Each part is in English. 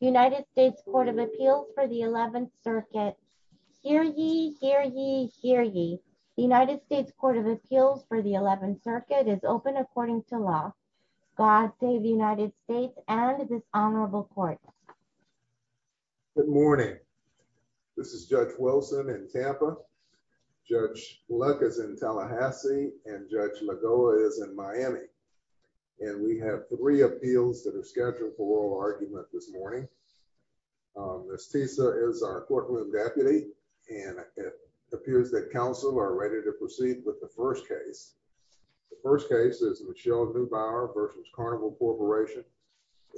United States Court of Appeals for the 11th Circuit. Hear ye, hear ye, hear ye. The United States Court of Appeals for the 11th Circuit is open according to law. God save the United States and this honorable court. Good morning. This is Judge Wilson in Tampa. Judge Luck is in Tallahassee and Judge Magoa is in Miami. And we have three appeals that are scheduled for oral argument this morning. Ms. Tisa is our courtroom deputy and it appears that counsel are ready to proceed with the first case. The first case is Michelle Newbauer versus Carnival Corporation.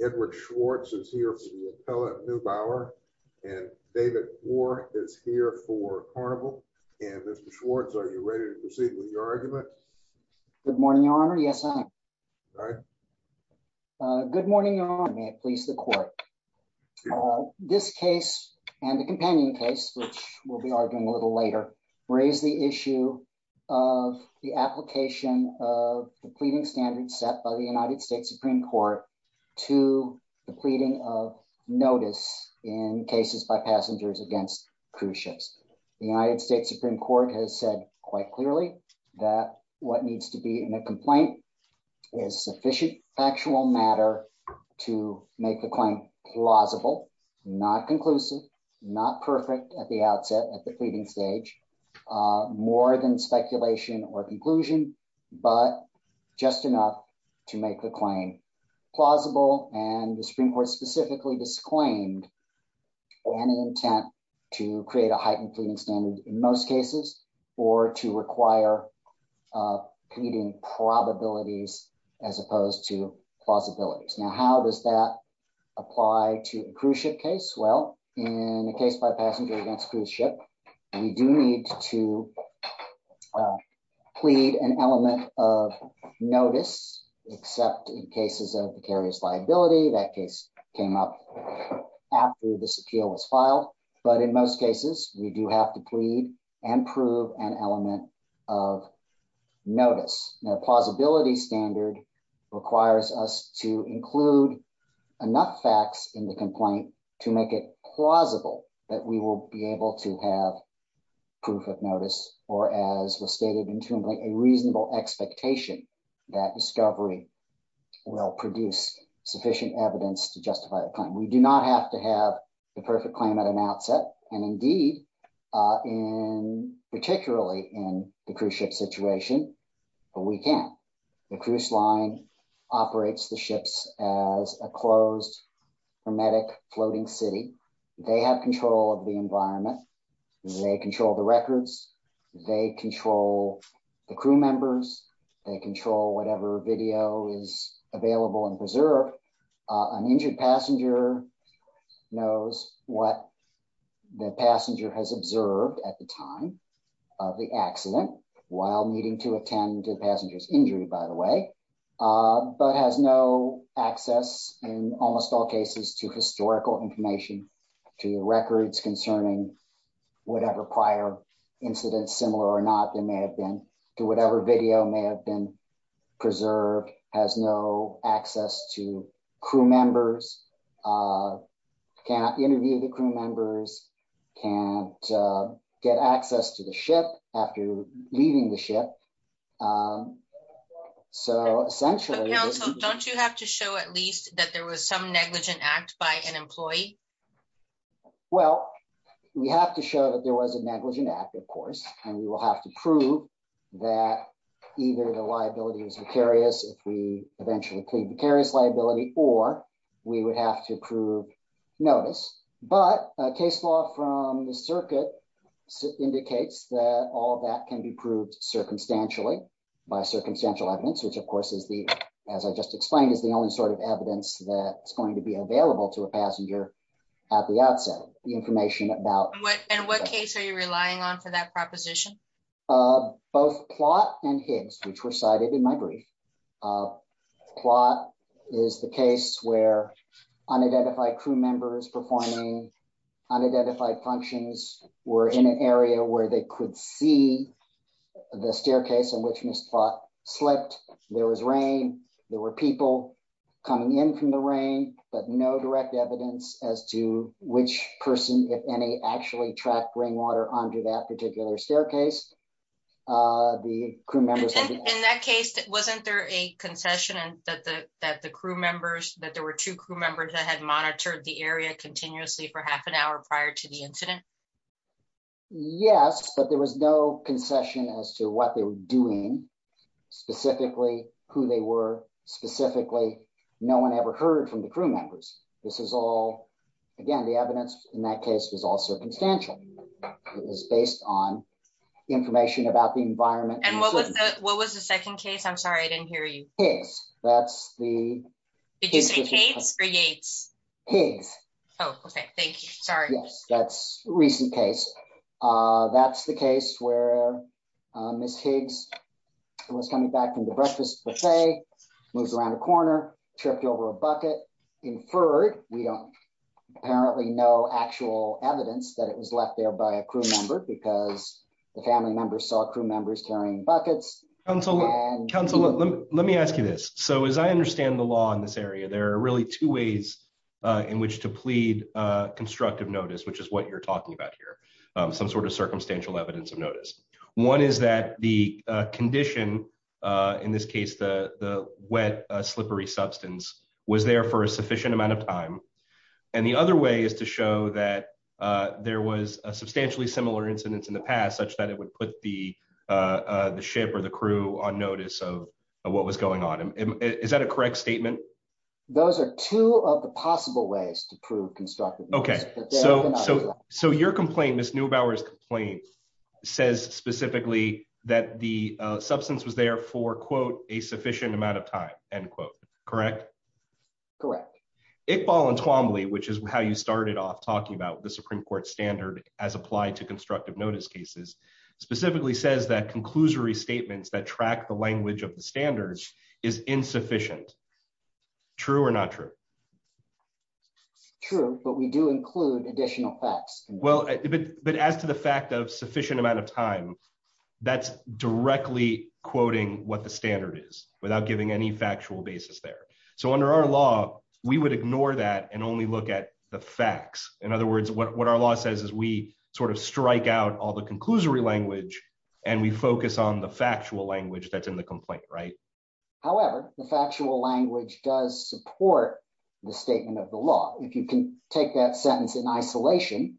Edward Schwartz is here for the appellate Newbauer and David Moore is here for Carnival. And Mr. Schwartz, are you ready to proceed with your argument? Good morning, Your Honor. Yes, I am. All right. Good morning, Your Honor. May it please the court. This case and the companion case, which we'll be arguing a little later, raise the issue of the application of the pleading standard set by the United States Supreme Court to the pleading of notice in cases by passengers against cruise ships. The United States Supreme Court has said quite clearly that what needs to be in a complaint is sufficient factual matter to make the claim plausible, not conclusive, not perfect at the outset at the pleading stage, more than speculation or conclusion, but just enough to make the claim plausible. And the Supreme Court specifically disclaimed an intent to create a heightened pleading standard in most cases or to require pleading probabilities as opposed to plausibilities. Now, how does that apply to a cruise ship case? Well, in a case by passenger against cruise ship, we do need to plead an element of notice, except in cases of the carrier's liability. That case came up after this appeal was filed. But in most cases, we do have to plead and prove an element of notice. The plausibility standard requires us to include enough facts in the complaint to make it plausible that we will be able to have proof of notice, or as was stated intuitively, a reasonable expectation that discovery will produce sufficient evidence to justify the claim. We do not have to have the perfect claim at an outset, and indeed, in particularly in the cruise ship situation, but we can. The cruise line operates the ships as a closed hermetic floating city. They have control of the environment. They control the records. They control the crew members. They control whatever video is available and preserved. An injured passenger knows what the passenger has observed at the time of the accident while needing to attend to the passenger's injury, by the way, but has no access in almost all cases to historical information, to the records concerning whatever prior incidents, similar or not, there may have been to whatever video may have been preserved, has no access to crew members, cannot interview the crew members, can't get access to the ship after leaving the ship. So essentially, don't you have to show at least that there was some negligent act by an employee? Well, we have to show that there was a negligent act, of course, and we will have to prove that either the liability was vicarious if we eventually plead vicarious liability, or we would have to prove notice, but a case law from the circuit indicates that all that can be proved circumstantially by circumstantial evidence, which of course, as I just explained, is the only sort of evidence that's going to be available to a passenger at the outset, the information about... And what case are you relying on for that proposition? Both Plott and Higgs, which were cited in my brief. Plott is the case where unidentified crew members performing unidentified functions were in an area where they could see the staircase in which Ms. Plott slept. There was rain, there were people coming in from the rain, but no direct evidence as to which person, if any, actually tracked rainwater under that staircase. In that case, wasn't there a concession that there were two crew members that had monitored the area continuously for half an hour prior to the incident? Yes, but there was no concession as to what they were doing, specifically who they were, specifically no one ever heard from the crew members. This is all, again, the evidence in that case was all circumstantial. It was based on information about the environment. And what was the second case? I'm sorry, I didn't hear you. Higgs. That's the... Did you say Higgs or Yates? Higgs. Oh, okay. Thank you. Sorry. Yes, that's a recent case. That's the case where Ms. Higgs was coming back from the breakfast buffet, moves around a corner, tripped over a bucket, inferred. We don't apparently know actual evidence that it was left there by a crew member because the family members saw crew members carrying buckets. Counselor, let me ask you this. So as I understand the law in this area, there are really two ways in which to plead constructive notice, which is what you're talking about here, some sort of circumstantial evidence of notice. One is that the condition in this case, the wet, slippery substance was there for a sufficient amount of time. And the other way is to show that there was a substantially similar incidence in the past such that it would put the ship or the crew on notice of what was going on. Is that a correct statement? Those are two of the possible ways to prove constructive notice. Okay. So your complaint, Ms. Neubauer's complaint, says specifically that the substance was there for, quote, a sufficient amount of time, end quote, correct? Correct. Iqbal Entwambly, which is how you started off talking about the Supreme Court standard as applied to constructive notice cases, specifically says that conclusory statements that track the language of the standards is insufficient. True or not true? It's true, but we do include additional facts. Well, but as to the fact of sufficient amount of time, that's directly quoting what the standard is without giving any factual basis there. So under our law, we would ignore that and only look at the facts. In other words, what our law says is we sort of strike out all the conclusory language and we focus on the factual language that's in the complaint, right? However, the factual language does support the statement of the law. If you can take that sentence in isolation,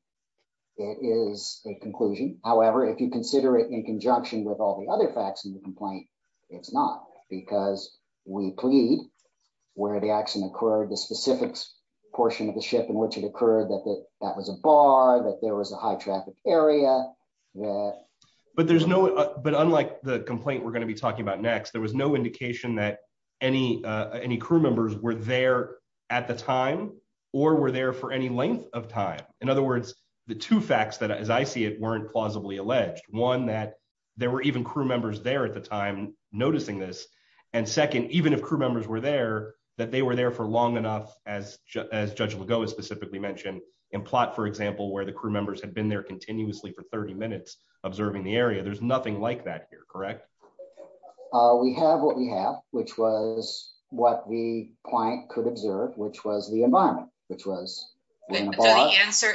it is a conclusion. However, if you consider it in conjunction with all the other facts in the complaint, it's not because we plead where the action occurred, the specific portion of the ship in which it occurred, that that was a bar, that there was a high traffic area. But there's no, but unlike the complaint we're going to be talking about next, there was no indication that any crew members were there at the time or were there for any length of time. In other words, the two facts that, as I see it, weren't plausibly alleged. One, that there were even crew members there at the time noticing this. And second, even if crew members were there, that they were there for long enough as Judge Lugo specifically mentioned in plot, for example, where the crew members had been there continuously for 30 minutes observing the area. There's nothing like that here, correct? We have what we have, which was what the client could observe, which was the environment, which was in a bar.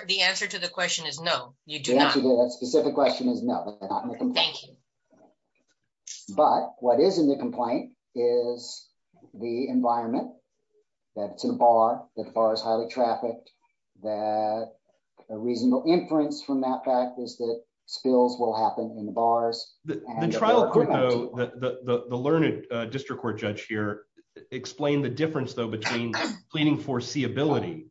The answer to the question is no, you do not. The answer to that specific question is no, but they're not in the complaint. Thank you. But what is in the complaint is the environment, that it's in a bar, that the bar is highly trafficked, that a reasonable inference from that fact is that spills will happen in the bars. The trial court though, the learned district court judge here, explained the difference though between pleading foreseeability,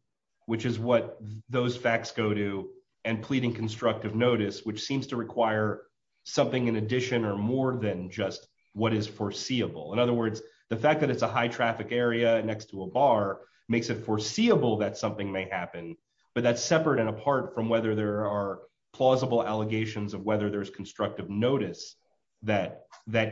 which is what those facts go to, and pleading constructive notice, which seems to require something in addition or more than just what is foreseeable. In other words, the fact that it's a high traffic area next to a bar makes it foreseeable that something may happen, but that's plausible allegations of whether there's constructive notice that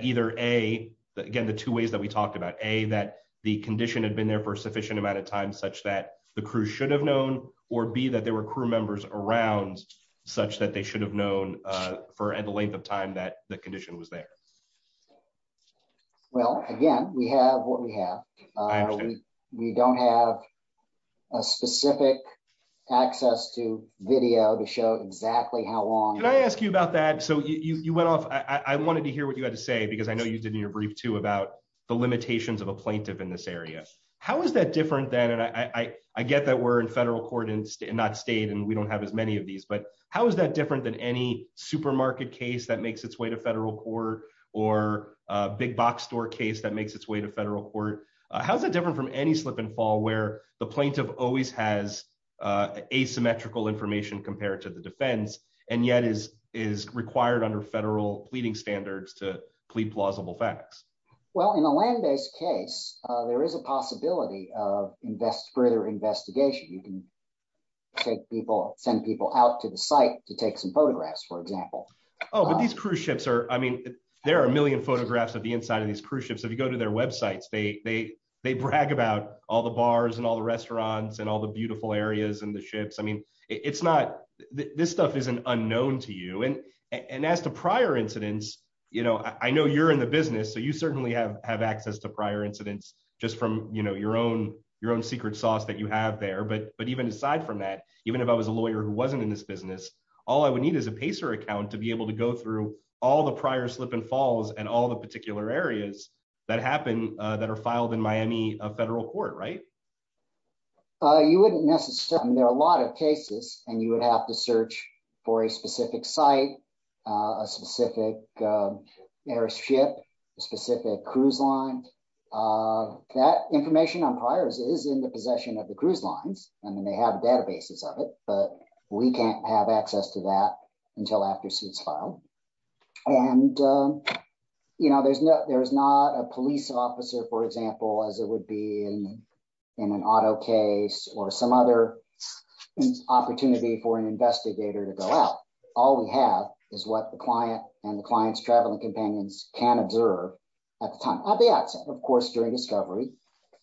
either A, again the two ways that we talked about, A, that the condition had been there for a sufficient amount of time such that the crew should have known, or B, that there were crew members around such that they should have known for the length of time that the condition was there. Well again, we have what we want. Can I ask you about that? So you went off, I wanted to hear what you had to say, because I know you did in your brief too about the limitations of a plaintiff in this area. How is that different than, and I get that we're in federal court and not state, and we don't have as many of these, but how is that different than any supermarket case that makes its way to federal court or a big box store case that makes its way to federal court? How's that different from any slip and fall where the plaintiff always has asymmetrical information compared to the defense and yet is required under federal pleading standards to plead plausible facts? Well, in a land-based case, there is a possibility of further investigation. You can take people, send people out to the site to take some photographs, for example. Oh, but these cruise ships are, I mean, there are a million photographs of the inside of these websites. They brag about all the bars and all the restaurants and all the beautiful areas and the ships. I mean, it's not, this stuff isn't unknown to you. And as to prior incidents, I know you're in the business, so you certainly have access to prior incidents just from your own secret sauce that you have there. But even aside from that, even if I was a lawyer who wasn't in this business, all I would need is a Pacer account to be able to go through all the prior slip and that happen that are filed in Miami federal court, right? You wouldn't necessarily. I mean, there are a lot of cases and you would have to search for a specific site, a specific airship, a specific cruise line. That information on priors is in the possession of the cruise lines. I mean, they have databases of it, but we can't have access to that until after suits file. And there's not a police officer, for example, as it would be in an auto case or some other opportunity for an investigator to go out. All we have is what the client and the client's traveling companions can observe at the time of the accident. Of course, during discovery,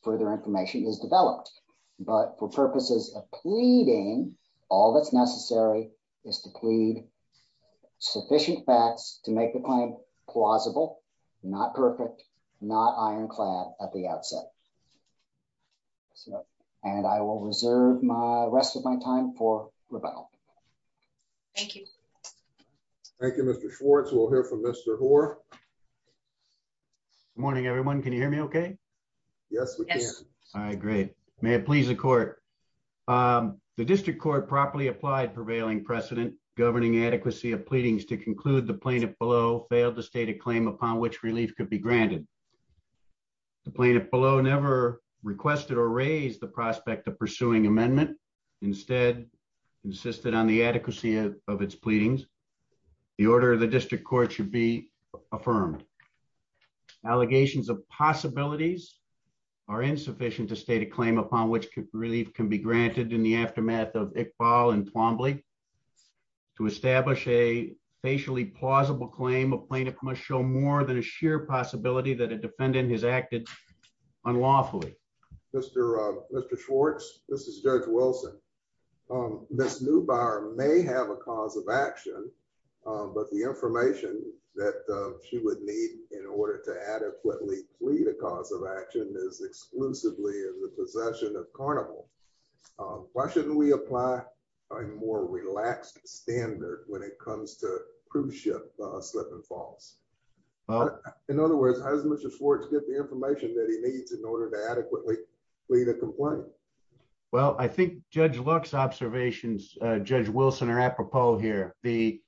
further information is developed, but for purposes of all that's necessary is to plead sufficient facts to make the claim plausible, not perfect, not ironclad at the outset. So, and I will reserve my rest of my time for rebel. Thank you. Thank you, Mr. Schwartz. We'll hear from Mr. Hoar. Morning, everyone. Can you hear me? Okay. Yes. All right. Great. May it please the court. The district court properly applied prevailing precedent governing adequacy of pleadings to conclude the plaintiff below failed to state a claim upon which relief could be granted. The plaintiff below never requested or raised the prospect of pursuing amendment instead insisted on the adequacy of its pleadings. The order of the district court should be affirmed. Allegations of possibilities are insufficient to state a claim upon which relief can be granted in the aftermath of Iqbal and Plumlee. To establish a facially plausible claim, a plaintiff must show more than a sheer possibility that a defendant has acted unlawfully. Mr. Schwartz, this is Judge Wilson. Ms. Neubauer may have a cause of action, but the information that she would need in order to adequately plead a cause of action is exclusively in the possession of Carnival. Why shouldn't we apply a more relaxed standard when it comes to cruise ship slip and falls? In other words, how does Mr. Schwartz get the information that he needs in order to adequately plead a complaint? Well, I think Judge Lux's observations, Judge Wilson, are apropos here. There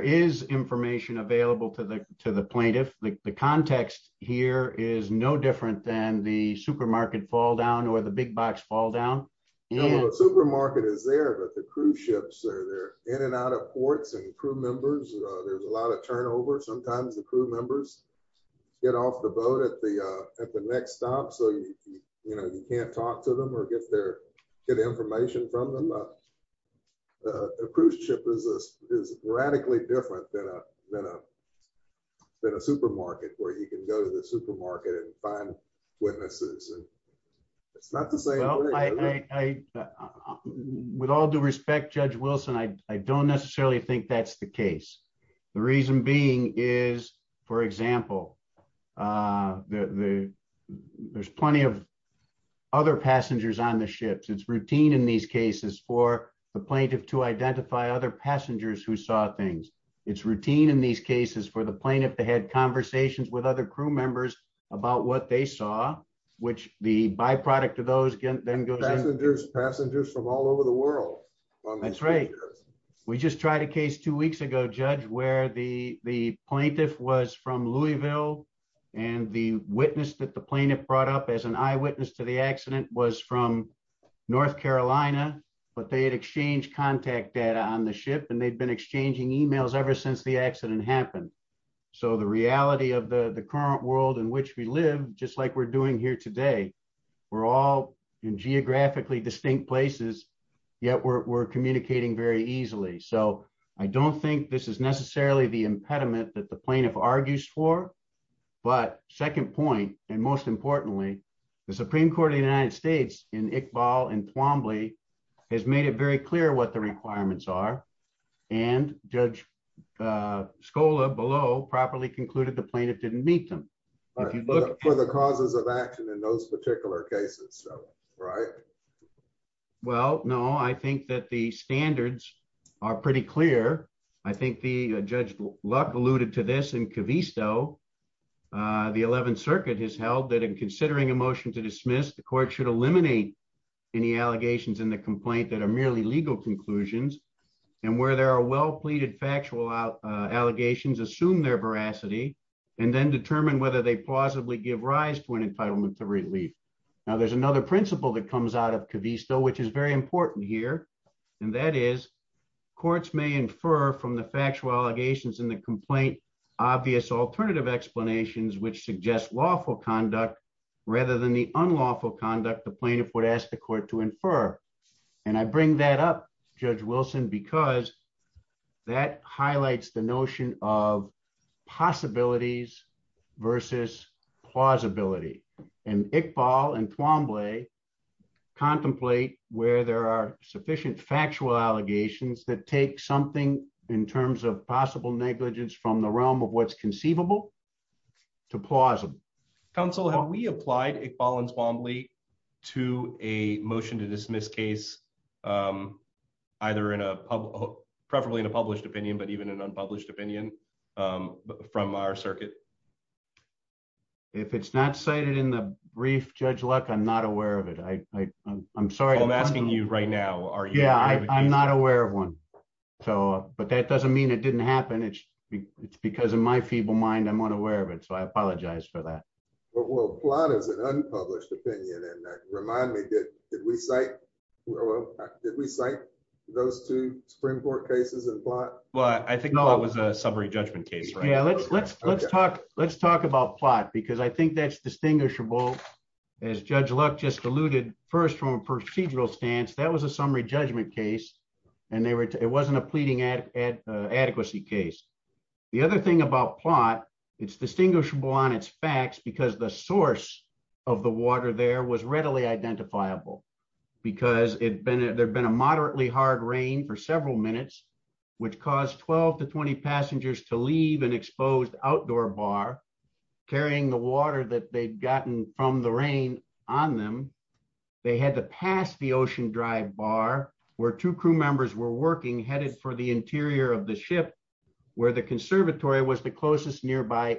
is information available to the plaintiff. The context here is no different than the supermarket fall down or the big box fall down. Supermarket is there, but the cruise ships are there in and out of ports and crew members. There's a lot of turnover. Sometimes the crew members get off the boat at the next stop, so you can't talk to them or get information from them. The cruise ship is radically different than in a supermarket where you can go to the supermarket and find witnesses. It's not the same thing. With all due respect, Judge Wilson, I don't necessarily think that's the case. The reason being is, for example, there's plenty of other passengers on the ships. It's routine in these cases for the plaintiff to identify other passengers who saw things. It's routine in these cases for the plaintiff to have conversations with other crew members about what they saw, which the byproduct of those then goes out. Passengers from all over the world. That's right. We just tried a case two weeks ago, Judge, where the plaintiff was from Louisville and the witness that the plaintiff brought up as an eyewitness to the accident was from North Carolina, but they had exchanged contact data on the ship and they'd been exchanging emails ever since the accident happened. The reality of the current world in which we live, just like we're doing here today, we're all in geographically distinct places, yet we're communicating very easily. I don't think this is necessarily the impediment that the plaintiff argues for, but second point, and most importantly, the Supreme Court of the United States in Iqbal and Twombly has made it very clear what the requirements are and Judge Scola below properly concluded the plaintiff didn't meet them. For the causes of action in those particular cases, right? Well, no, I think that the standards are pretty clear. I think the Judge Luck alluded to this in any allegations in the complaint that are merely legal conclusions and where there are well-pleaded factual allegations, assume their veracity, and then determine whether they plausibly give rise to an entitlement to relief. Now, there's another principle that comes out of Cavisto, which is very important here, and that is courts may infer from the factual allegations in the complaint, obvious alternative explanations, which suggest lawful conduct rather than the unlawful conduct the plaintiff would ask the court to infer. And I bring that up, Judge Wilson, because that highlights the notion of possibilities versus plausibility. And Iqbal and Twombly contemplate where there are sufficient factual allegations that take something in terms of possible negligence from the realm of what's conceivable to plausible. Counsel, have we applied Iqbal and Twombly to a motion to dismiss case, either in a public, preferably in a published opinion, but even an unpublished opinion from our circuit? If it's not cited in the brief, Judge Luck, I'm not aware of it. I'm sorry. I'm asking you right now. Yeah, I'm not aware of one. But that doesn't mean it didn't happen. It's because in my feeble mind, I'm unaware of it. So I apologize for that. Well, plot is an unpublished opinion. And remind me, did we cite those two Supreme Court cases in plot? Well, I think that was a summary judgment case. Yeah, let's talk about plot, because I think that's distinguishable. As Judge Luck just alluded, first from a procedural stance, that was a summary judgment case. And it wasn't a pleading adequacy case. The other thing about plot, it's distinguishable on its facts, because the source of the water there was readily identifiable. Because there'd been a moderately hard rain for several minutes, which caused 12 to 20 passengers to leave an exposed outdoor bar, carrying the water that they'd gotten from the rain on them. They had to pass the ocean drive bar, where two crew members were working, headed for the interior of the ship, where the conservatory was the closest nearby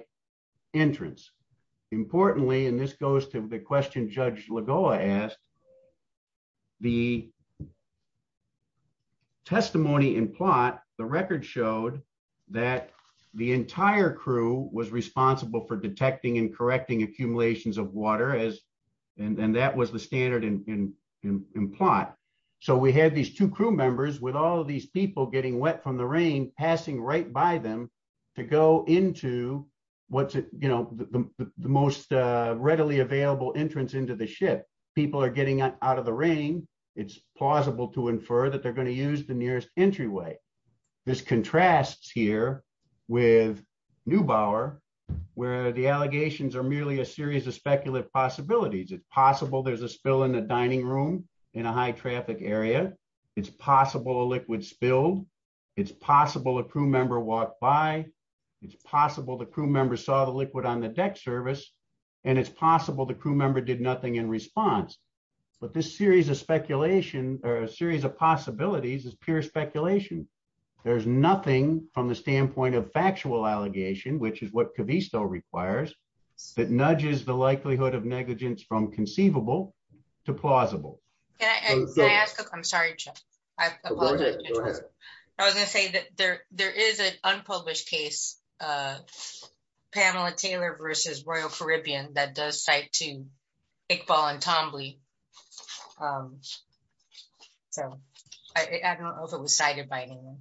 entrance. Importantly, and this goes to the question Judge Lagoa asked, the testimony in plot, the record showed that the entire crew was responsible for detecting and correcting accumulations of water, and that was the two crew members, with all of these people getting wet from the rain, passing right by them, to go into the most readily available entrance into the ship. People are getting out of the rain, it's plausible to infer that they're going to use the nearest entryway. This contrasts here with Neubauer, where the allegations are merely a series of speculative possibilities. It's possible a liquid spilled, it's possible a crew member walked by, it's possible the crew member saw the liquid on the deck service, and it's possible the crew member did nothing in response. But this series of possibilities is pure speculation. There's nothing from the standpoint of factual allegation, which is what Cavisto requires, that nudges the likelihood negligence from conceivable to plausible. I was going to say that there is an unpublished case, Pamela Taylor versus Royal Caribbean, that does cite two, Iqbal and Tambly. So I don't know if it was cited by anyone.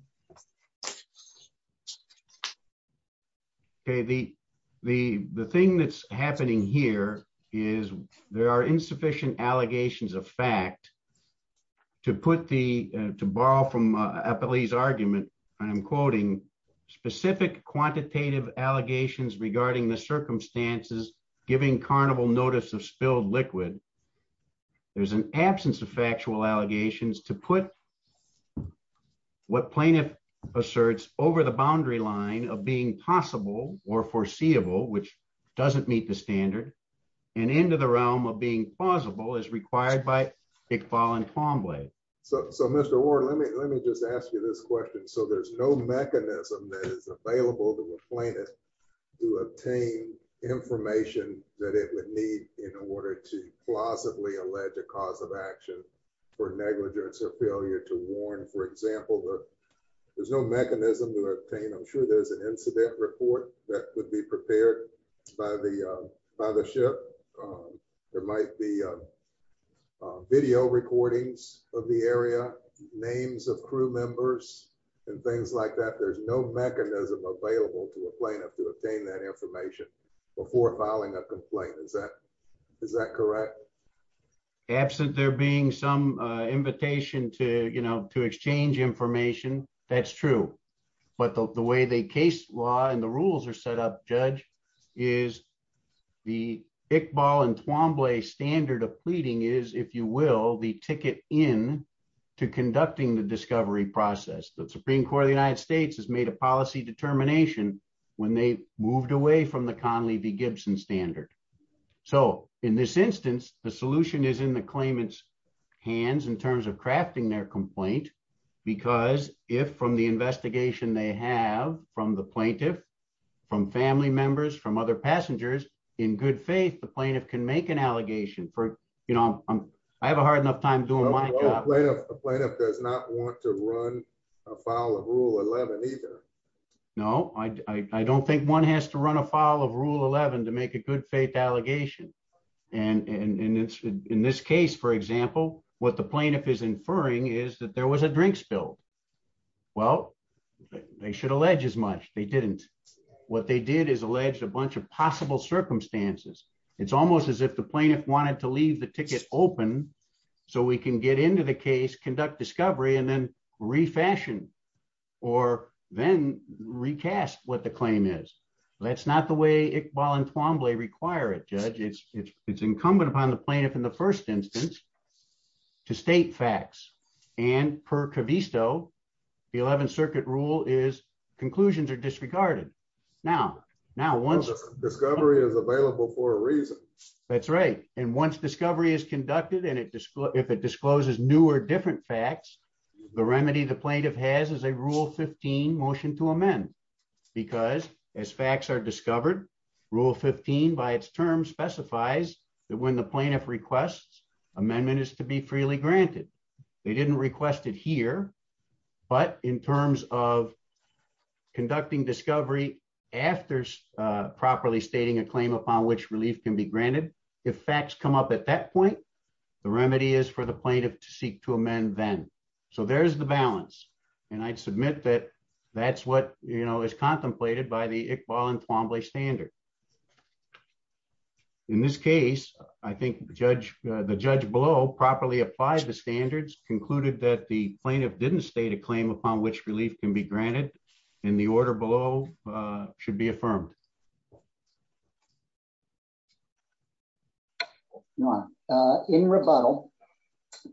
Okay, the thing that's happening here is there are insufficient allegations of fact to put the, to borrow from Eppley's argument, I'm quoting, specific quantitative allegations regarding the circumstances giving Carnival notice of spilled liquid. There's an absence of factual allegations to put what plaintiff asserts over the boundary line of being possible or foreseeable, which doesn't meet the standard, and into the realm of being plausible is required by Iqbal and Tambly. So Mr. Ward, let me just ask you this question. So there's no mechanism that is available to a plaintiff to obtain information that it would need in order to plausibly allege a cause of action for negligence or failure to warn. For example, there's no mechanism to obtain, I'm sure there's an incident report that would be prepared by the ship. There might be video recordings of the area, names of crew members, and things like that. There's no mechanism available to a plaintiff to obtain that information before filing a complaint. Is that correct? Absent there being some invitation to, you know, to exchange information, that's true. But the way the case law and the rules are set up, Judge, is the Iqbal and Tambly standard of pleading is, if you will, the ticket in to conducting the discovery process. The Supreme Court of the United States has made a policy determination when they moved away from the the solution is in the claimant's hands in terms of crafting their complaint. Because if from the investigation they have from the plaintiff, from family members, from other passengers, in good faith, the plaintiff can make an allegation for, you know, I have a hard enough time doing my job. A plaintiff does not want to run a file of Rule 11 either. No, I don't think one has to run a file of Rule 11 to make a good faith allegation. And in this case, for example, what the plaintiff is inferring is that there was a drink spill. Well, they should allege as much. They didn't. What they did is allege a bunch of possible circumstances. It's almost as if the plaintiff wanted to leave the ticket open so we can get into the case, conduct discovery, and then refashion or then recast what the claim is. That's not the way Iqbal and Twombly require it, Judge. It's incumbent upon the plaintiff in the first instance to state facts. And per Covisto, the Eleventh Circuit rule is conclusions are disregarded. Now, once discovery is available for a reason. That's right. And once discovery is conducted and if it discloses new or different facts, the remedy the plaintiff has is a Rule 15 motion to amend. Because as facts are discovered, Rule 15 by its term specifies that when the plaintiff requests, amendment is to be freely granted. They didn't request it here, but in terms of conducting discovery after properly stating a claim upon which relief can be granted, if facts come up at that point, the remedy is for plaintiff to seek to amend then. So there's the balance. And I'd submit that that's what, you know, is contemplated by the Iqbal and Twombly standard. In this case, I think the judge below properly applied the standards, concluded that the plaintiff didn't state a claim upon which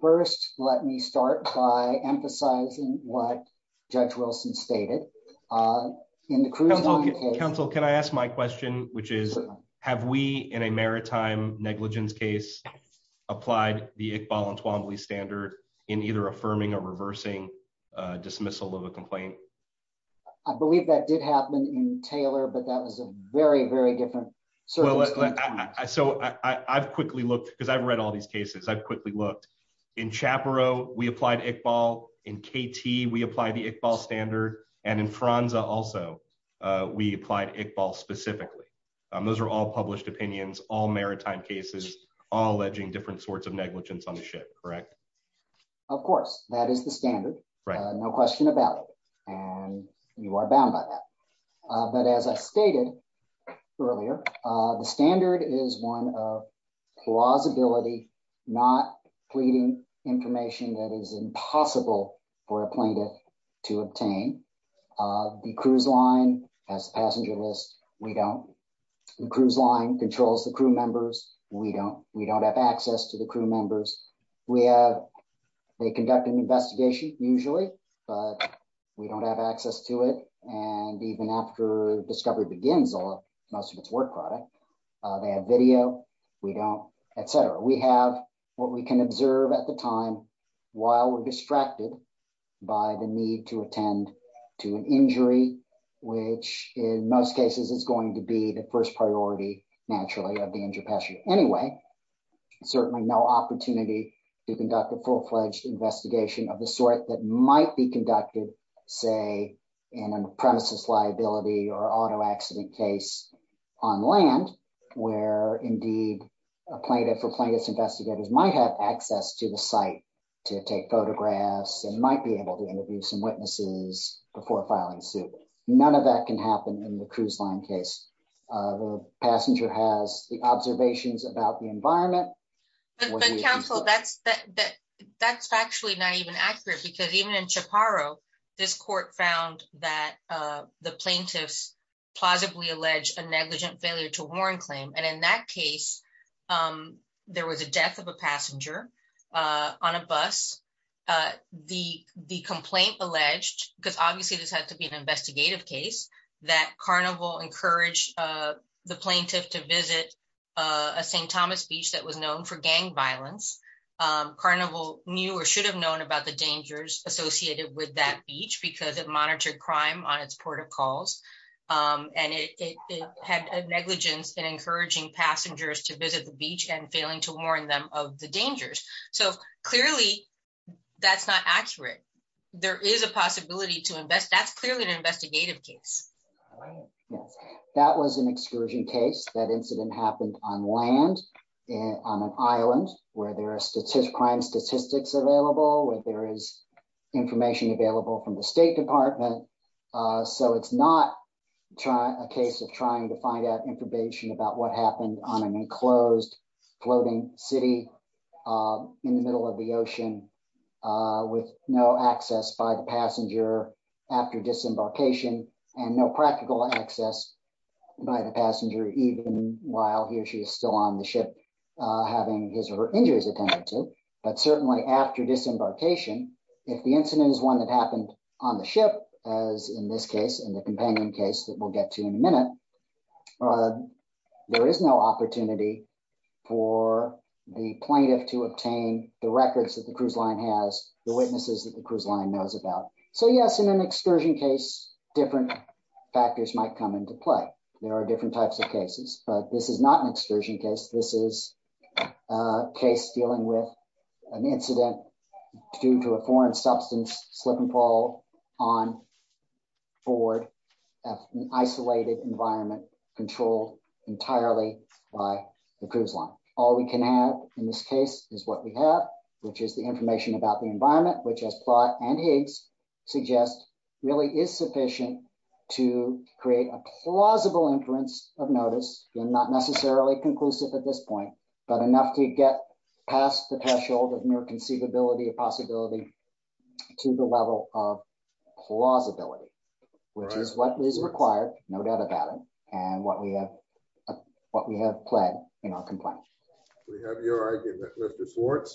First, let me start by emphasizing what Judge Wilson stated. Counsel, can I ask my question, which is, have we in a maritime negligence case applied the Iqbal and Twombly standard in either affirming or reversing dismissal of a complaint? I believe that did happen in Taylor, but that was a very, very different. Well, so I've quickly looked, because I've read all these cases, I've quickly looked. In Chaparro, we applied Iqbal. In KT, we apply the Iqbal standard. And in Franza also, we applied Iqbal specifically. Those are all published opinions, all maritime cases, all alleging different sorts of negligence on the ship, correct? Of course, that is the standard. No question about it. And you are bound by that. But as I stated earlier, the standard is one of plausibility, not pleading information that is impossible for a plaintiff to obtain. The cruise line has a passenger list. We don't. The cruise line controls the crew members. We don't. We don't have access to the crew members. We have, they conduct an investigation usually, but we don't have access to it. And even after discovery begins, most of its work product, they have video. We don't, et cetera. We have what we can observe at the time while we're distracted by the need to attend to an injury, which in most cases is going to be the first priority, naturally, of the injured passenger. Anyway, certainly no opportunity to conduct a full-fledged investigation of the sort that auto accident case on land where indeed a plaintiff or plaintiff's investigators might have access to the site to take photographs and might be able to interview some witnesses before filing suit. None of that can happen in the cruise line case. The passenger has the observations about the environment. But counsel, that's actually not even accurate because even in Chaparro, this court found that the plaintiffs plausibly alleged a negligent failure to warrant claim. And in that case, there was a death of a passenger on a bus. The complaint alleged, because obviously this had to be an investigative case, that Carnival encouraged the plaintiff to visit a St. Thomas beach that was known for gang violence. Carnival knew or should have known about the dangers associated with that beach because it monitored crime on its protocols. And it had a negligence in encouraging passengers to visit the beach and failing to warn them of the dangers. So clearly that's not accurate. There is a possibility to invest. That's clearly an investigative case. Yes. That was an excursion case. That incident happened on land on an island where there are crime statistics available, where there is information available from the state department. So it's not a case of trying to find out information about what happened on an enclosed floating city in the middle of the ocean with no access by the passenger after disembarkation and no practical access by the passenger, even while he or she is still on the ship, having his or her injuries attended to. But certainly after disembarkation, if the incident is one that happened on the ship, as in this case and the companion case that we'll get to in a minute, there is no opportunity for the plaintiff to obtain the records that the cruise line has, the witnesses that the cruise line knows about. So yes, in an excursion case, different factors might come into play. There are different types of cases, but this is not an excursion case. This is a case dealing with an incident due to a foreign substance slip and fall on board, an isolated environment controlled entirely by the cruise line. All we can have in this case is what we have, which is the information about the environment, which as Plott and Higgs suggest, really is sufficient to create a plausible inference of notice, not necessarily conclusive at this point, but enough to get past the threshold of mere conceivability of possibility to the level of plausibility, which is what is required, no doubt about it, and what we have pled in our complaint. We have your argument, Mr. Swartz.